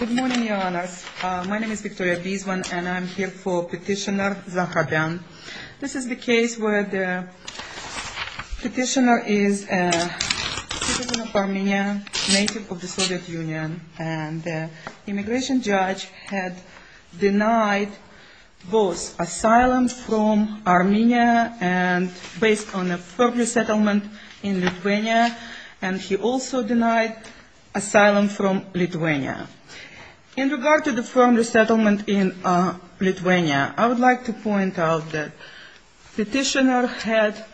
Good morning, Your Honours. My name is Victoria Biswan, and I'm here for Petitioner Zohrabyan. This is the case where the petitioner is a citizen of Armenia, native of the Soviet Union, and the immigration judge had denied both asylum from Armenia, and based on a further settlement in Lithuania, and he also denied asylum from Lithuania. In regard to the firm resettlement in Lithuania, I would like to point out that petitioner had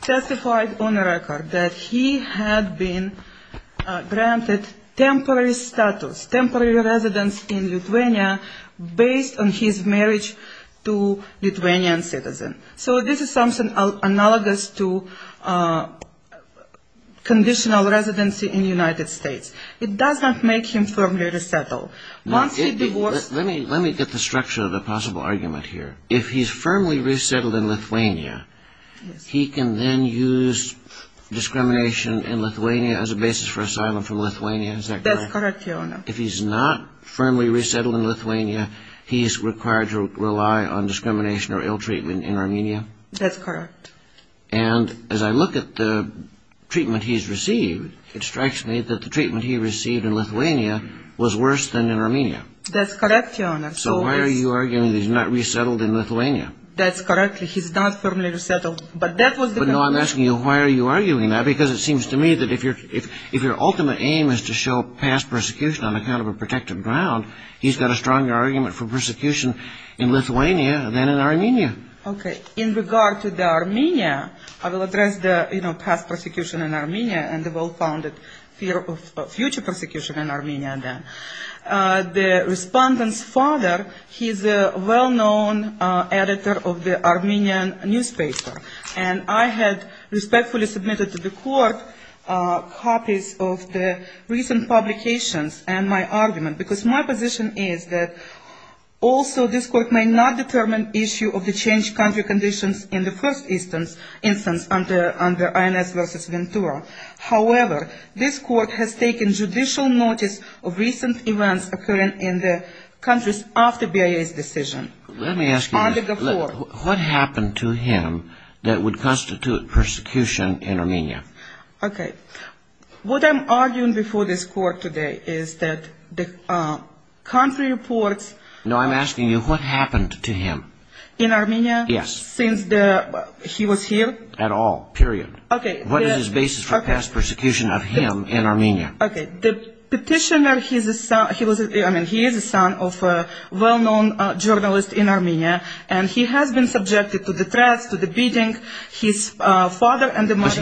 testified on a record that he had been granted temporary status, temporary residence in Lithuania, based on his marriage to Lithuanian citizen. So this is something analogous to conditional residency in the United States. It does not make him firmly resettled. Let me get the structure of the possible argument here. If he's firmly resettled in Lithuania, he can then use discrimination in Lithuania as a basis for asylum from Lithuania? That's correct, Your Honour. If he's not firmly resettled in Lithuania, he's required to rely on discrimination or ill-treatment in Armenia? That's correct. And as I look at the treatment he's received, it strikes me that the treatment he received in Lithuania was worse than in Armenia. That's correct, Your Honour. So why are you arguing that he's not resettled in Lithuania? That's correct. He's not firmly resettled, but that was the argument. No, I'm asking you, why are you arguing that? Because it seems to me that if your ultimate aim is to show past persecution on account of a protected ground, he's got a stronger argument for persecution in Lithuania than in Armenia. Okay. In regard to the Armenia, I will address the past persecution in Armenia and the well-founded fear of future persecution in Armenia. The respondent's father, he's a well-known editor of the Armenian newspaper. And I had respectfully submitted to the court copies of the recent publications and my argument, because my position is that also this court may not determine issue of the changed country conditions in the first instance under INS versus Ventura. However, this court has taken judicial notice of recent events occurring in the countries after BIA's decision. Let me ask you, what happened to him that would constitute persecution in Armenia? Okay. What I'm arguing before this court today is that the country reports... No, I'm asking you, what happened to him? In Armenia? Yes. Since he was here? At all. Period. Okay. What is his basis for past persecution of him in Armenia? Okay. The petitioner, he is a son of a well-known journalist in Armenia. And he has been subjected to the threats, to the beating, his father and the mother...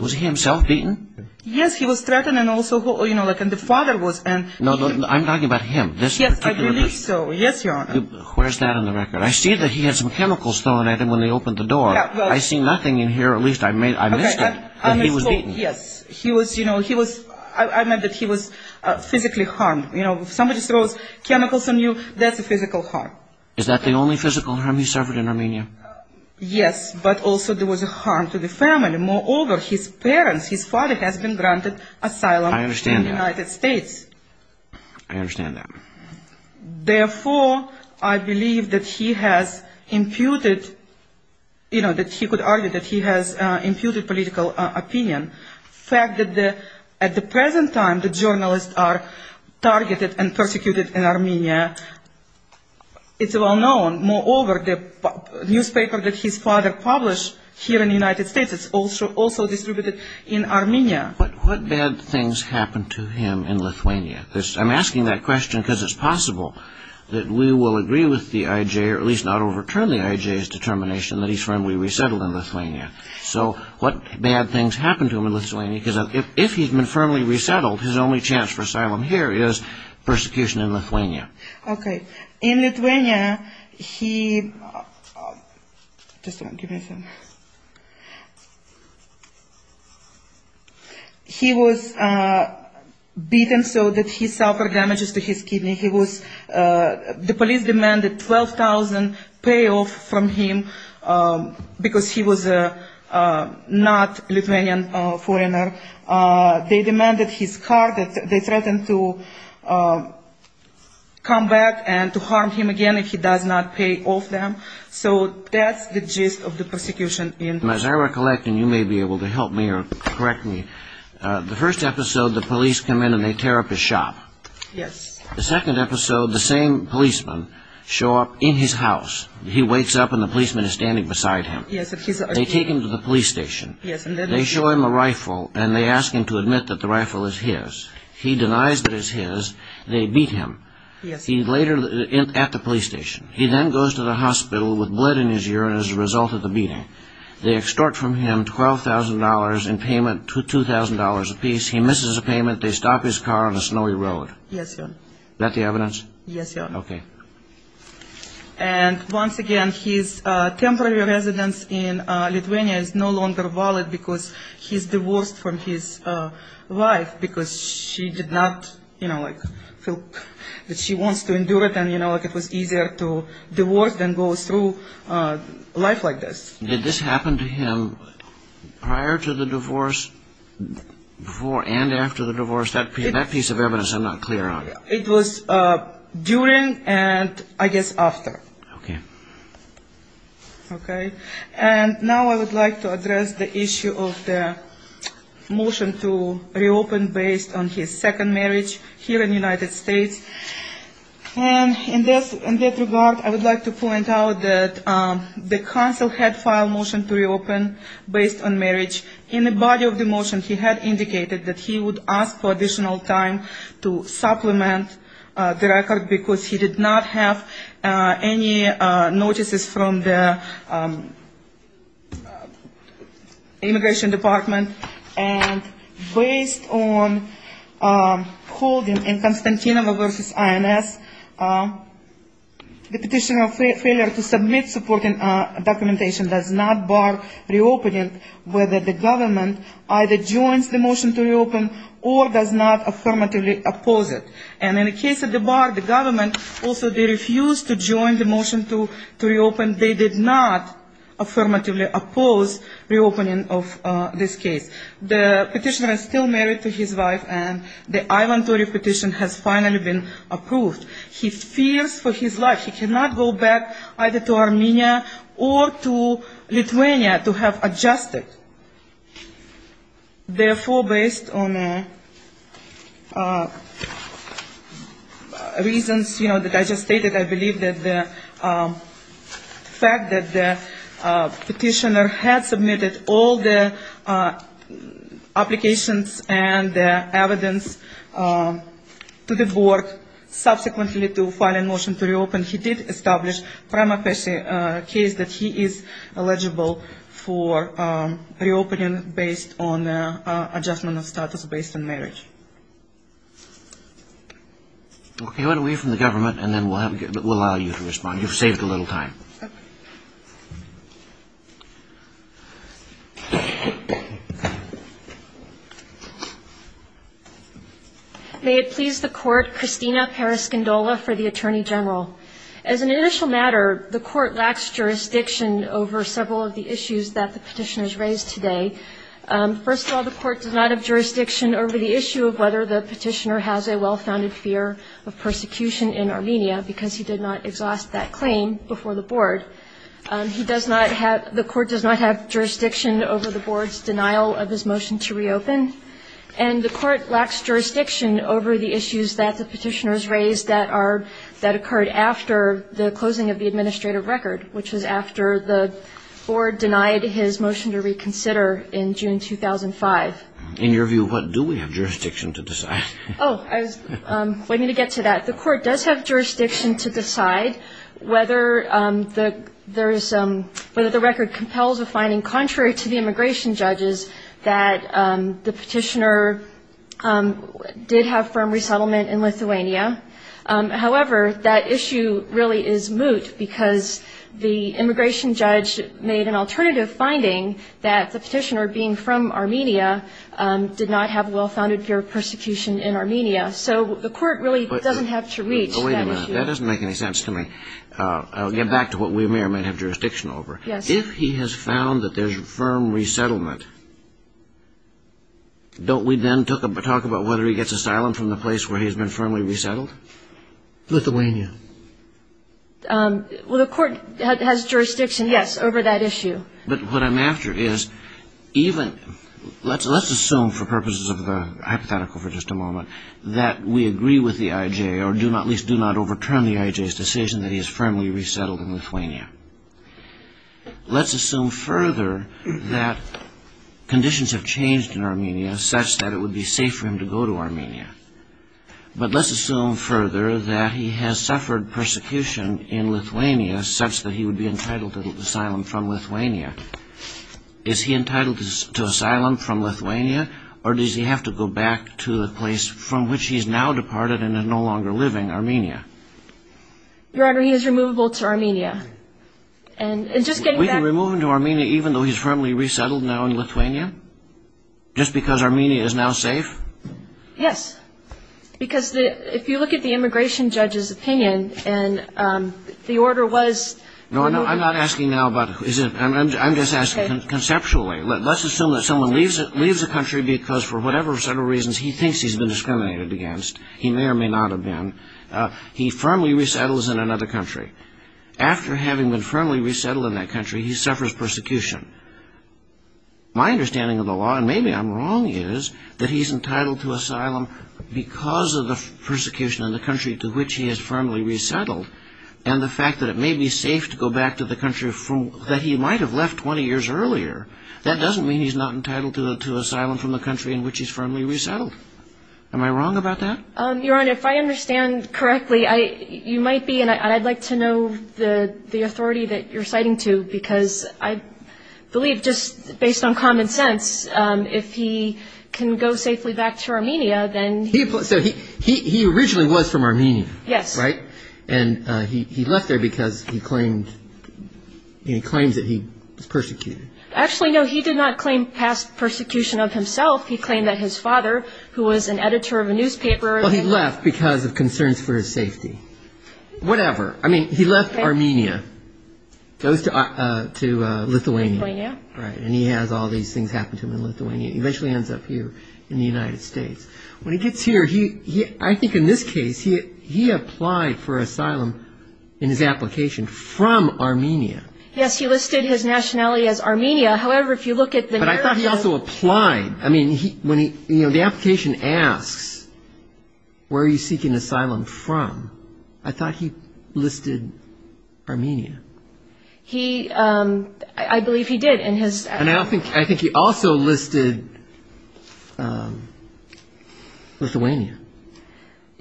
Was he himself beaten? Yes, he was threatened and also the father was... No, I'm talking about him. Yes, I believe so. Yes, Your Honor. Where's that on the record? I see that he had some chemicals thrown at him when they opened the door. I see nothing in here, at least I missed it, that he was beaten. Yes. I meant that he was physically harmed. If somebody throws chemicals on you, that's a physical harm. Is that the only physical harm he suffered in Armenia? Yes, but also there was a harm to the family. Moreover, his parents, his father has been granted asylum in the United States. I understand that. I understand that. You know, that he could argue that he has imputed political opinion. The fact that at the present time the journalists are targeted and persecuted in Armenia, it's well known. Moreover, the newspaper that his father published here in the United States is also distributed in Armenia. What bad things happened to him in Lithuania? I'm asking that question because it's possible that we will agree with the IJ, or at least not overturn the IJ's determination that he's firmly resettled in Lithuania. So what bad things happened to him in Lithuania? Because if he's been firmly resettled, his only chance for asylum here is persecution in Lithuania. Okay. In Lithuania, he was beaten so that he suffered damages to his kidney. The police demanded 12,000 payoffs from him because he was not a Lithuanian foreigner. They demanded his car. They threatened to come back and to harm him again if he does not pay off them. So that's the gist of the persecution in Lithuania. As I recollect, and you may be able to help me or correct me, the first episode, the police come in and they tear up his shop. Yes. The second episode, the same policemen show up in his house. He wakes up and the policeman is standing beside him. Yes. They take him to the police station. Yes. They show him a rifle and they ask him to admit that the rifle is his. He denies that it's his. They beat him. Yes. He's later at the police station. He then goes to the hospital with blood in his urine as a result of the beating. They extort from him $12,000 in payment, $2,000 apiece. He misses a payment. They stop his car on a snowy road. Yes, Your Honor. Is that the evidence? Yes, Your Honor. Okay. And once again, his temporary residence in Lithuania is no longer valid because he's divorced from his wife because she did not, you know, like feel that she wants to endure it and, you know, like it was easier to divorce than go through life like this. Did this happen to him prior to the divorce, before and after the divorce? That piece of evidence I'm not clear on. It was during and, I guess, after. Okay. Okay. And now I would like to address the issue of the motion to reopen based on his second marriage here in the United States. And in this regard, I would like to point out that the counsel had filed a motion to reopen based on marriage. In the body of the motion, he had indicated that he would ask for additional time to supplement the record because he did not have any notices from the immigration department. And based on holding in Constantino versus INS, the petitioner's failure to submit supporting documentation does not bar reopening, whether the government either joins the motion to reopen or does not affirmatively oppose it. And in the case of the bar, the government also refused to join the motion to reopen. They did not affirmatively oppose reopening of this case. The petitioner is still married to his wife, and the Ivan Torey petition has finally been approved. He fears for his life. He cannot go back either to Armenia or to Lithuania to have adjusted. Therefore, based on reasons, you know, that I just stated, I believe that the fact that the petitioner had submitted all the applications and the evidence to the board, subsequently to file a motion to reopen, he did establish prima facie a case that he is eligible for reopening based on adjustment of status based on marriage. Okay, why don't we hear from the government, and then we'll allow you to respond. You've saved a little time. May it please the Court, Christina Periscindola for the Attorney General. As an initial matter, the Court lacks jurisdiction over several of the issues that the petitioners raised today. First of all, the Court does not have jurisdiction over the issue of whether the petitioner has a well-founded fear of persecution in Armenia, because he did not exhaust that claim before the board. The Court does not have jurisdiction over the board's denial of his motion to reopen, and the Court lacks jurisdiction over the issues that the petitioners raised that occurred after the closing of the administrative record, which was after the board denied his motion to reconsider in June 2005. In your view, what do we have jurisdiction to decide? Oh, I was waiting to get to that. The Court does have jurisdiction to decide whether the record compels a finding contrary to the immigration judges that the petitioner did have firm resettlement in Lithuania. However, that issue really is moot because the immigration judge made an alternative finding that the petitioner being from Armenia did not have well-founded fear of persecution in Armenia. So the Court really doesn't have to reach that issue. Wait a minute. That doesn't make any sense to me. I'll get back to what we may or may not have jurisdiction over. Yes. If he has found that there's firm resettlement, don't we then talk about whether he gets asylum from the place where he's been firmly resettled? Lithuania. Well, the Court has jurisdiction, yes, over that issue. But what I'm after is even – let's assume for purposes of the hypothetical for just a moment that we agree with the IJ, or at least do not overturn the IJ's decision that he is firmly resettled in Lithuania. Let's assume further that conditions have changed in Armenia such that it would be safe for him to go to Armenia. But let's assume further that he has suffered persecution in Lithuania such that he would be entitled to asylum from Lithuania. Is he entitled to asylum from Lithuania, or does he have to go back to the place from which he's now departed and is no longer living, Armenia? Your Honor, he is removable to Armenia. We can remove him to Armenia even though he's firmly resettled now in Lithuania? Just because Armenia is now safe? Yes. Because if you look at the immigration judge's opinion, and the order was – No, I'm not asking now about – I'm just asking conceptually. Let's assume that someone leaves the country because for whatever set of reasons he thinks he's been discriminated against. He may or may not have been. He firmly resettles in another country. After having been firmly resettled in that country, he suffers persecution. My understanding of the law, and maybe I'm wrong, is that he's entitled to asylum because of the persecution in the country to which he has firmly resettled, and the fact that it may be safe to go back to the country that he might have left 20 years earlier. That doesn't mean he's not entitled to asylum from the country in which he's firmly resettled. Am I wrong about that? Your Honor, if I understand correctly, you might be, and I'd like to know the authority that you're citing to because I believe, just based on common sense, if he can go safely back to Armenia, then – So he originally was from Armenia, right? Yes. And he left there because he claimed that he was persecuted. Actually, no, he did not claim past persecution of himself. He claimed that his father, who was an editor of a newspaper – Well, he left because of concerns for his safety. Whatever. I mean, he left Armenia, goes to Lithuania. Lithuania. Right, and he has all these things happen to him in Lithuania. He eventually ends up here in the United States. When he gets here, I think in this case, he applied for asylum in his application from Armenia. Yes, he listed his nationality as Armenia. However, if you look at the narrative – The application asks, where are you seeking asylum from? I thought he listed Armenia. I believe he did in his – And I think he also listed Lithuania.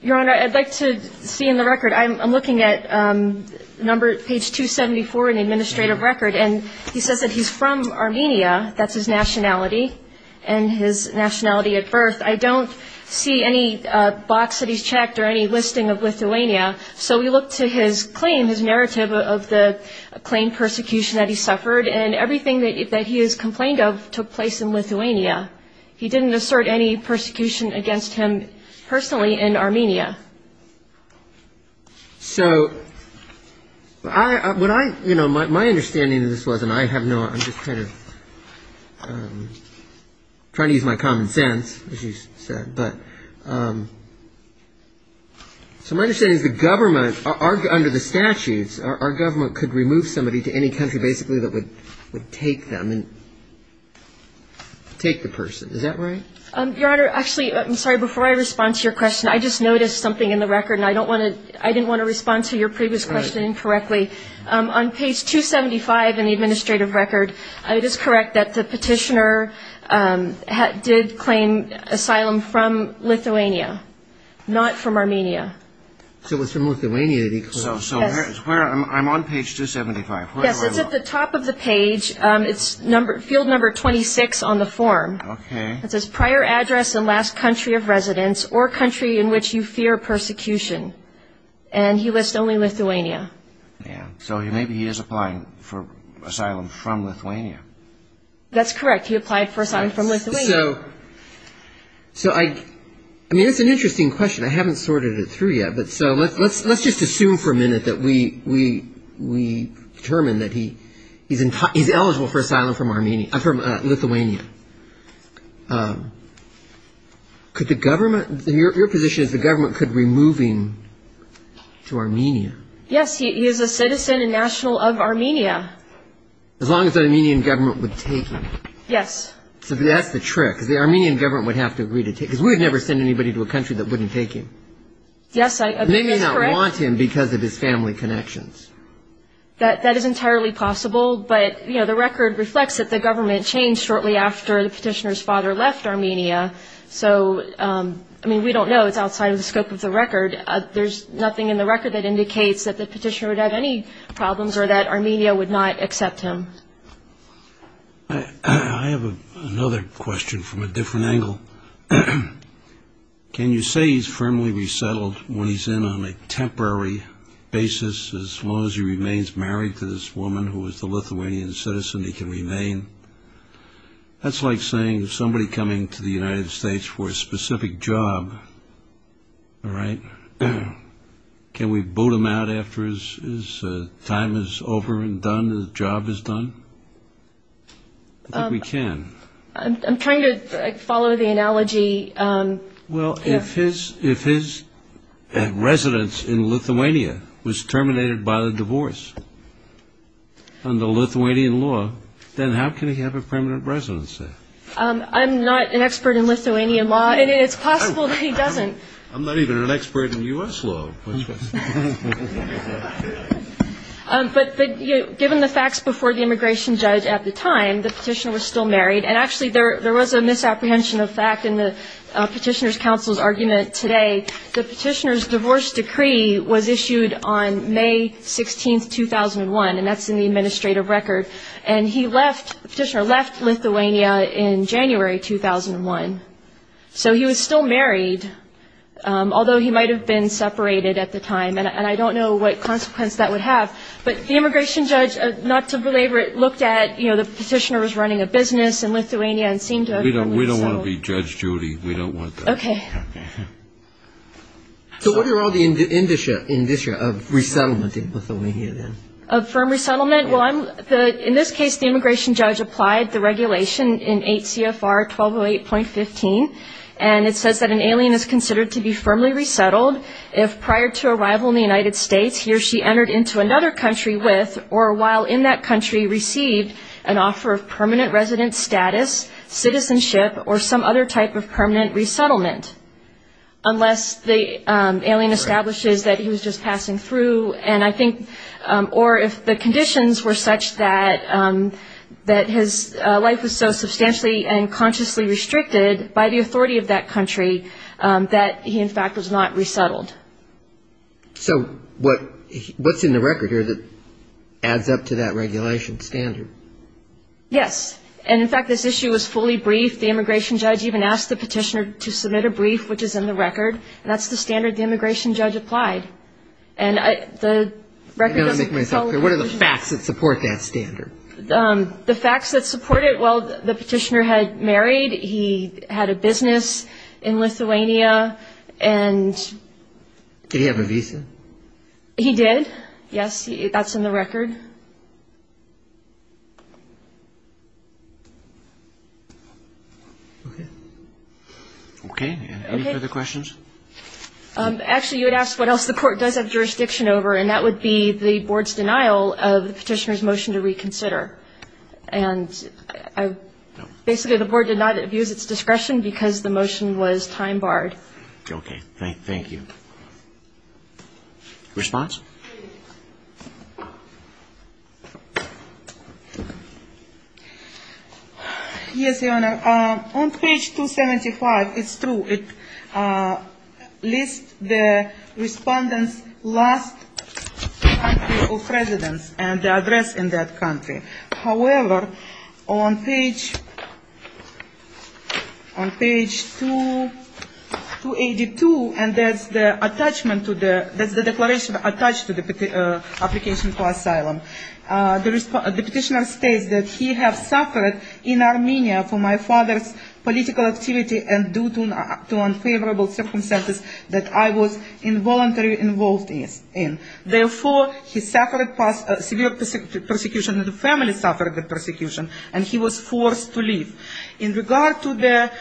Your Honor, I'd like to see in the record – I'm looking at page 274 in the administrative record, and he says that he's from Armenia. That's his nationality and his nationality at birth. I don't see any box that he's checked or any listing of Lithuania, so we look to his claim, his narrative of the claimed persecution that he suffered, and everything that he has complained of took place in Lithuania. He didn't assert any persecution against him personally in Armenia. So my understanding of this was – and I have no – I'm just kind of trying to use my common sense, as you said. But so my understanding is the government, under the statutes, our government could remove somebody to any country basically that would take them and take the person. Is that right? Your Honor, actually, I'm sorry. Before I respond to your question, I just noticed something in the record, and I didn't want to respond to your previous question incorrectly. On page 275 in the administrative record, it is correct that the petitioner did claim asylum from Lithuania, not from Armenia. So it was from Lithuania that he claimed. So I'm on page 275. Yes, it's at the top of the page. It's field number 26 on the form. Okay. It says, prior address and last country of residence or country in which you fear persecution. And he lists only Lithuania. So maybe he is applying for asylum from Lithuania. That's correct. He applied for asylum from Lithuania. So I mean, it's an interesting question. I haven't sorted it through yet. Let's just assume for a minute that we determine that he's eligible for asylum from Lithuania. Your position is the government could remove him to Armenia. Yes, he is a citizen and national of Armenia. As long as the Armenian government would take him. Yes. So that's the trick, because the Armenian government would have to agree to take him. Because we would never send anybody to a country that wouldn't take him. Yes, that's correct. They may not want him because of his family connections. That is entirely possible, but, you know, the record reflects that the government changed shortly after the petitioner's father left Armenia. So, I mean, we don't know. It's outside of the scope of the record. There's nothing in the record that indicates that the petitioner would have any problems or that Armenia would not accept him. I have another question from a different angle. Can you say he's firmly resettled when he's in on a temporary basis, as long as he remains married to this woman who is the Lithuanian citizen, he can remain? That's like saying somebody coming to the United States for a specific job, all right? Can we boot him out after his time is over and done, his job is done? I think we can. I'm trying to follow the analogy. Well, if his residence in Lithuania was terminated by the divorce under Lithuanian law, then how can he have a permanent residence there? I'm not an expert in Lithuanian law, and it's possible that he doesn't. I'm not even an expert in U.S. law. But given the facts before the immigration judge at the time, the petitioner was still married, and actually there was a misapprehension of fact in the petitioner's counsel's argument today. The petitioner's divorce decree was issued on May 16, 2001, and that's in the administrative record. And he left, the petitioner left Lithuania in January 2001. So he was still married, although he might have been separated at the time, and I don't know what consequence that would have. But the immigration judge, not to belabor it, looked at, you know, the petitioner was running a business in Lithuania and seemed to have a permanent residence. We don't want to be Judge Judy. We don't want that. Okay. So what are all the indicia of resettlement in Lithuania then? Of firm resettlement? In this case, the immigration judge applied the regulation in 8 CFR 1208.15, and it says that an alien is considered to be firmly resettled if prior to arrival in the United States he or she entered into another country with or while in that country received an offer of permanent residence status, citizenship, or some other type of permanent resettlement, unless the alien establishes that he was just passing through. Or if the conditions were such that his life was so substantially and consciously restricted by the authority of that country that he, in fact, was not resettled. So what's in the record here that adds up to that regulation standard? Yes. And, in fact, this issue was fully briefed. The immigration judge even asked the petitioner to submit a brief, which is in the record, and that's the standard the immigration judge applied. And the record doesn't follow. What are the facts that support that standard? The facts that support it? Well, the petitioner had married. He had a business in Lithuania. Did he have a visa? He did, yes. That's in the record. Okay. Okay. Any further questions? Actually, you had asked what else the court does have jurisdiction over, and that would be the board's denial of the petitioner's motion to reconsider. And basically, the board did not abuse its discretion because the motion was time-barred. Okay. Thank you. Response? Yes, Your Honor. On page 275, it's true, it lists the respondent's last country of residence and the address in that country. However, on page 282, and that's the declaration attached to the application for asylum, the petitioner states that he has suffered in Armenia for my father's political activity and due to unfavorable circumstances that I was involuntarily involved in. Therefore, he suffered severe persecution, and the family suffered the persecution, and he was forced to leave. In regard to the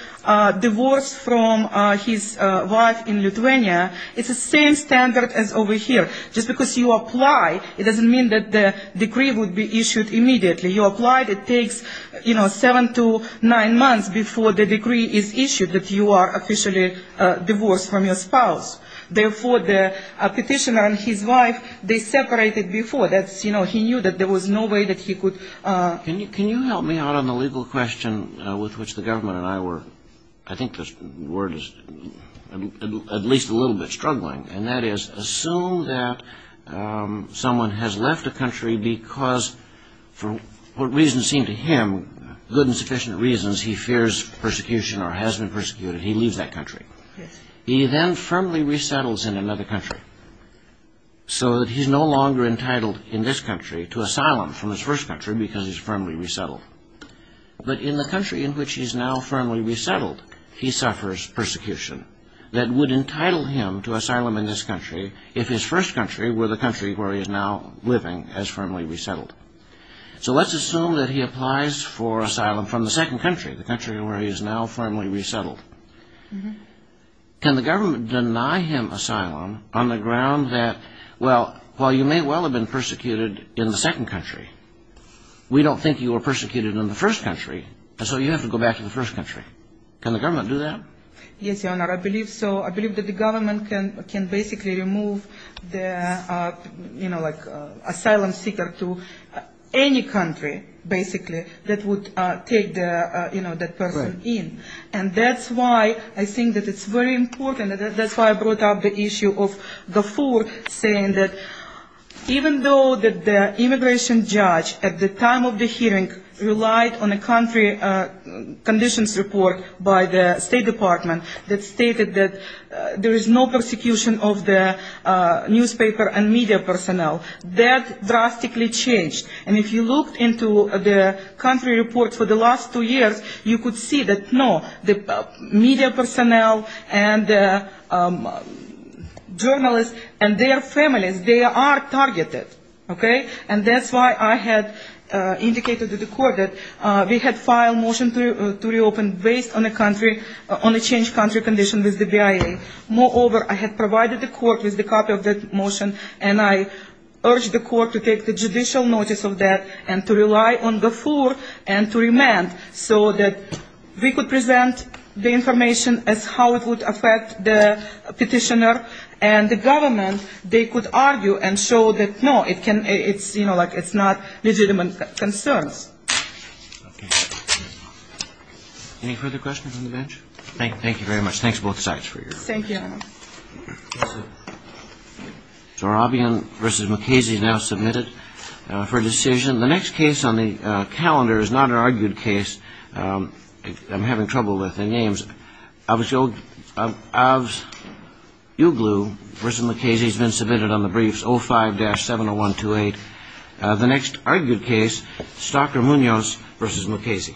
divorce from his wife in Lithuania, it's the same standard as over here. Just because you apply, it doesn't mean that the decree would be issued immediately. You apply, it takes, you know, seven to nine months before the decree is issued that you are officially divorced from your spouse. Therefore, the petitioner and his wife, they separated before. That's, you know, he knew that there was no way that he could. Can you help me out on the legal question with which the government and I were, I think the word is at least a little bit struggling, and that is assume that someone has left a country because for what reasons seem to him good and sufficient reasons, he fears persecution or has been persecuted, he leaves that country. He then firmly resettles in another country so that he's no longer entitled in this country to asylum from his first country because he's firmly resettled. But in the country in which he's now firmly resettled, he suffers persecution that would entitle him to asylum in this country if his first country were the country where he is now living as firmly resettled. So let's assume that he applies for asylum from the second country, the country where he is now firmly resettled. Can the government deny him asylum on the ground that, well, while you may well have been persecuted in the second country, we don't think you were persecuted in the first country, and so you have to go back to the first country. Can the government do that? Yes, Your Honor, I believe so. I believe that the government can basically remove the, you know, like asylum seeker to any country, basically, that would take, you know, that person in. And that's why I think that it's very important. That's why I brought up the issue of Gafoor saying that even though the immigration judge at the time of the hearing relied on a country conditions report by the State Department that stated that there is no persecution of the newspaper and media personnel, that drastically changed. And if you looked into the country report for the last two years, you could see that, no, the media personnel and journalists and their families, they are targeted, okay? And that's why I had indicated to the court that we had filed a motion to reopen based on a country, on a changed country condition with the BIA. Moreover, I had provided the court with a copy of that motion, and I urged the court to take the judicial notice of that and to rely on Gafoor and to remand so that we could present the information as how it would affect the petitioner and the government, they could argue and show that, no, it's, you know, like it's not legitimate concerns. Okay. Any further questions on the bench? Thank you very much. Thanks both sides for your questions. Thank you. Zorabian versus Mukasey now submitted for decision. The next case on the calendar is not an argued case. I'm having trouble with the names. Avuglou versus Mukasey has been submitted on the briefs 05-70128. The next argued case, Stalker Munoz versus Mukasey. Thank you.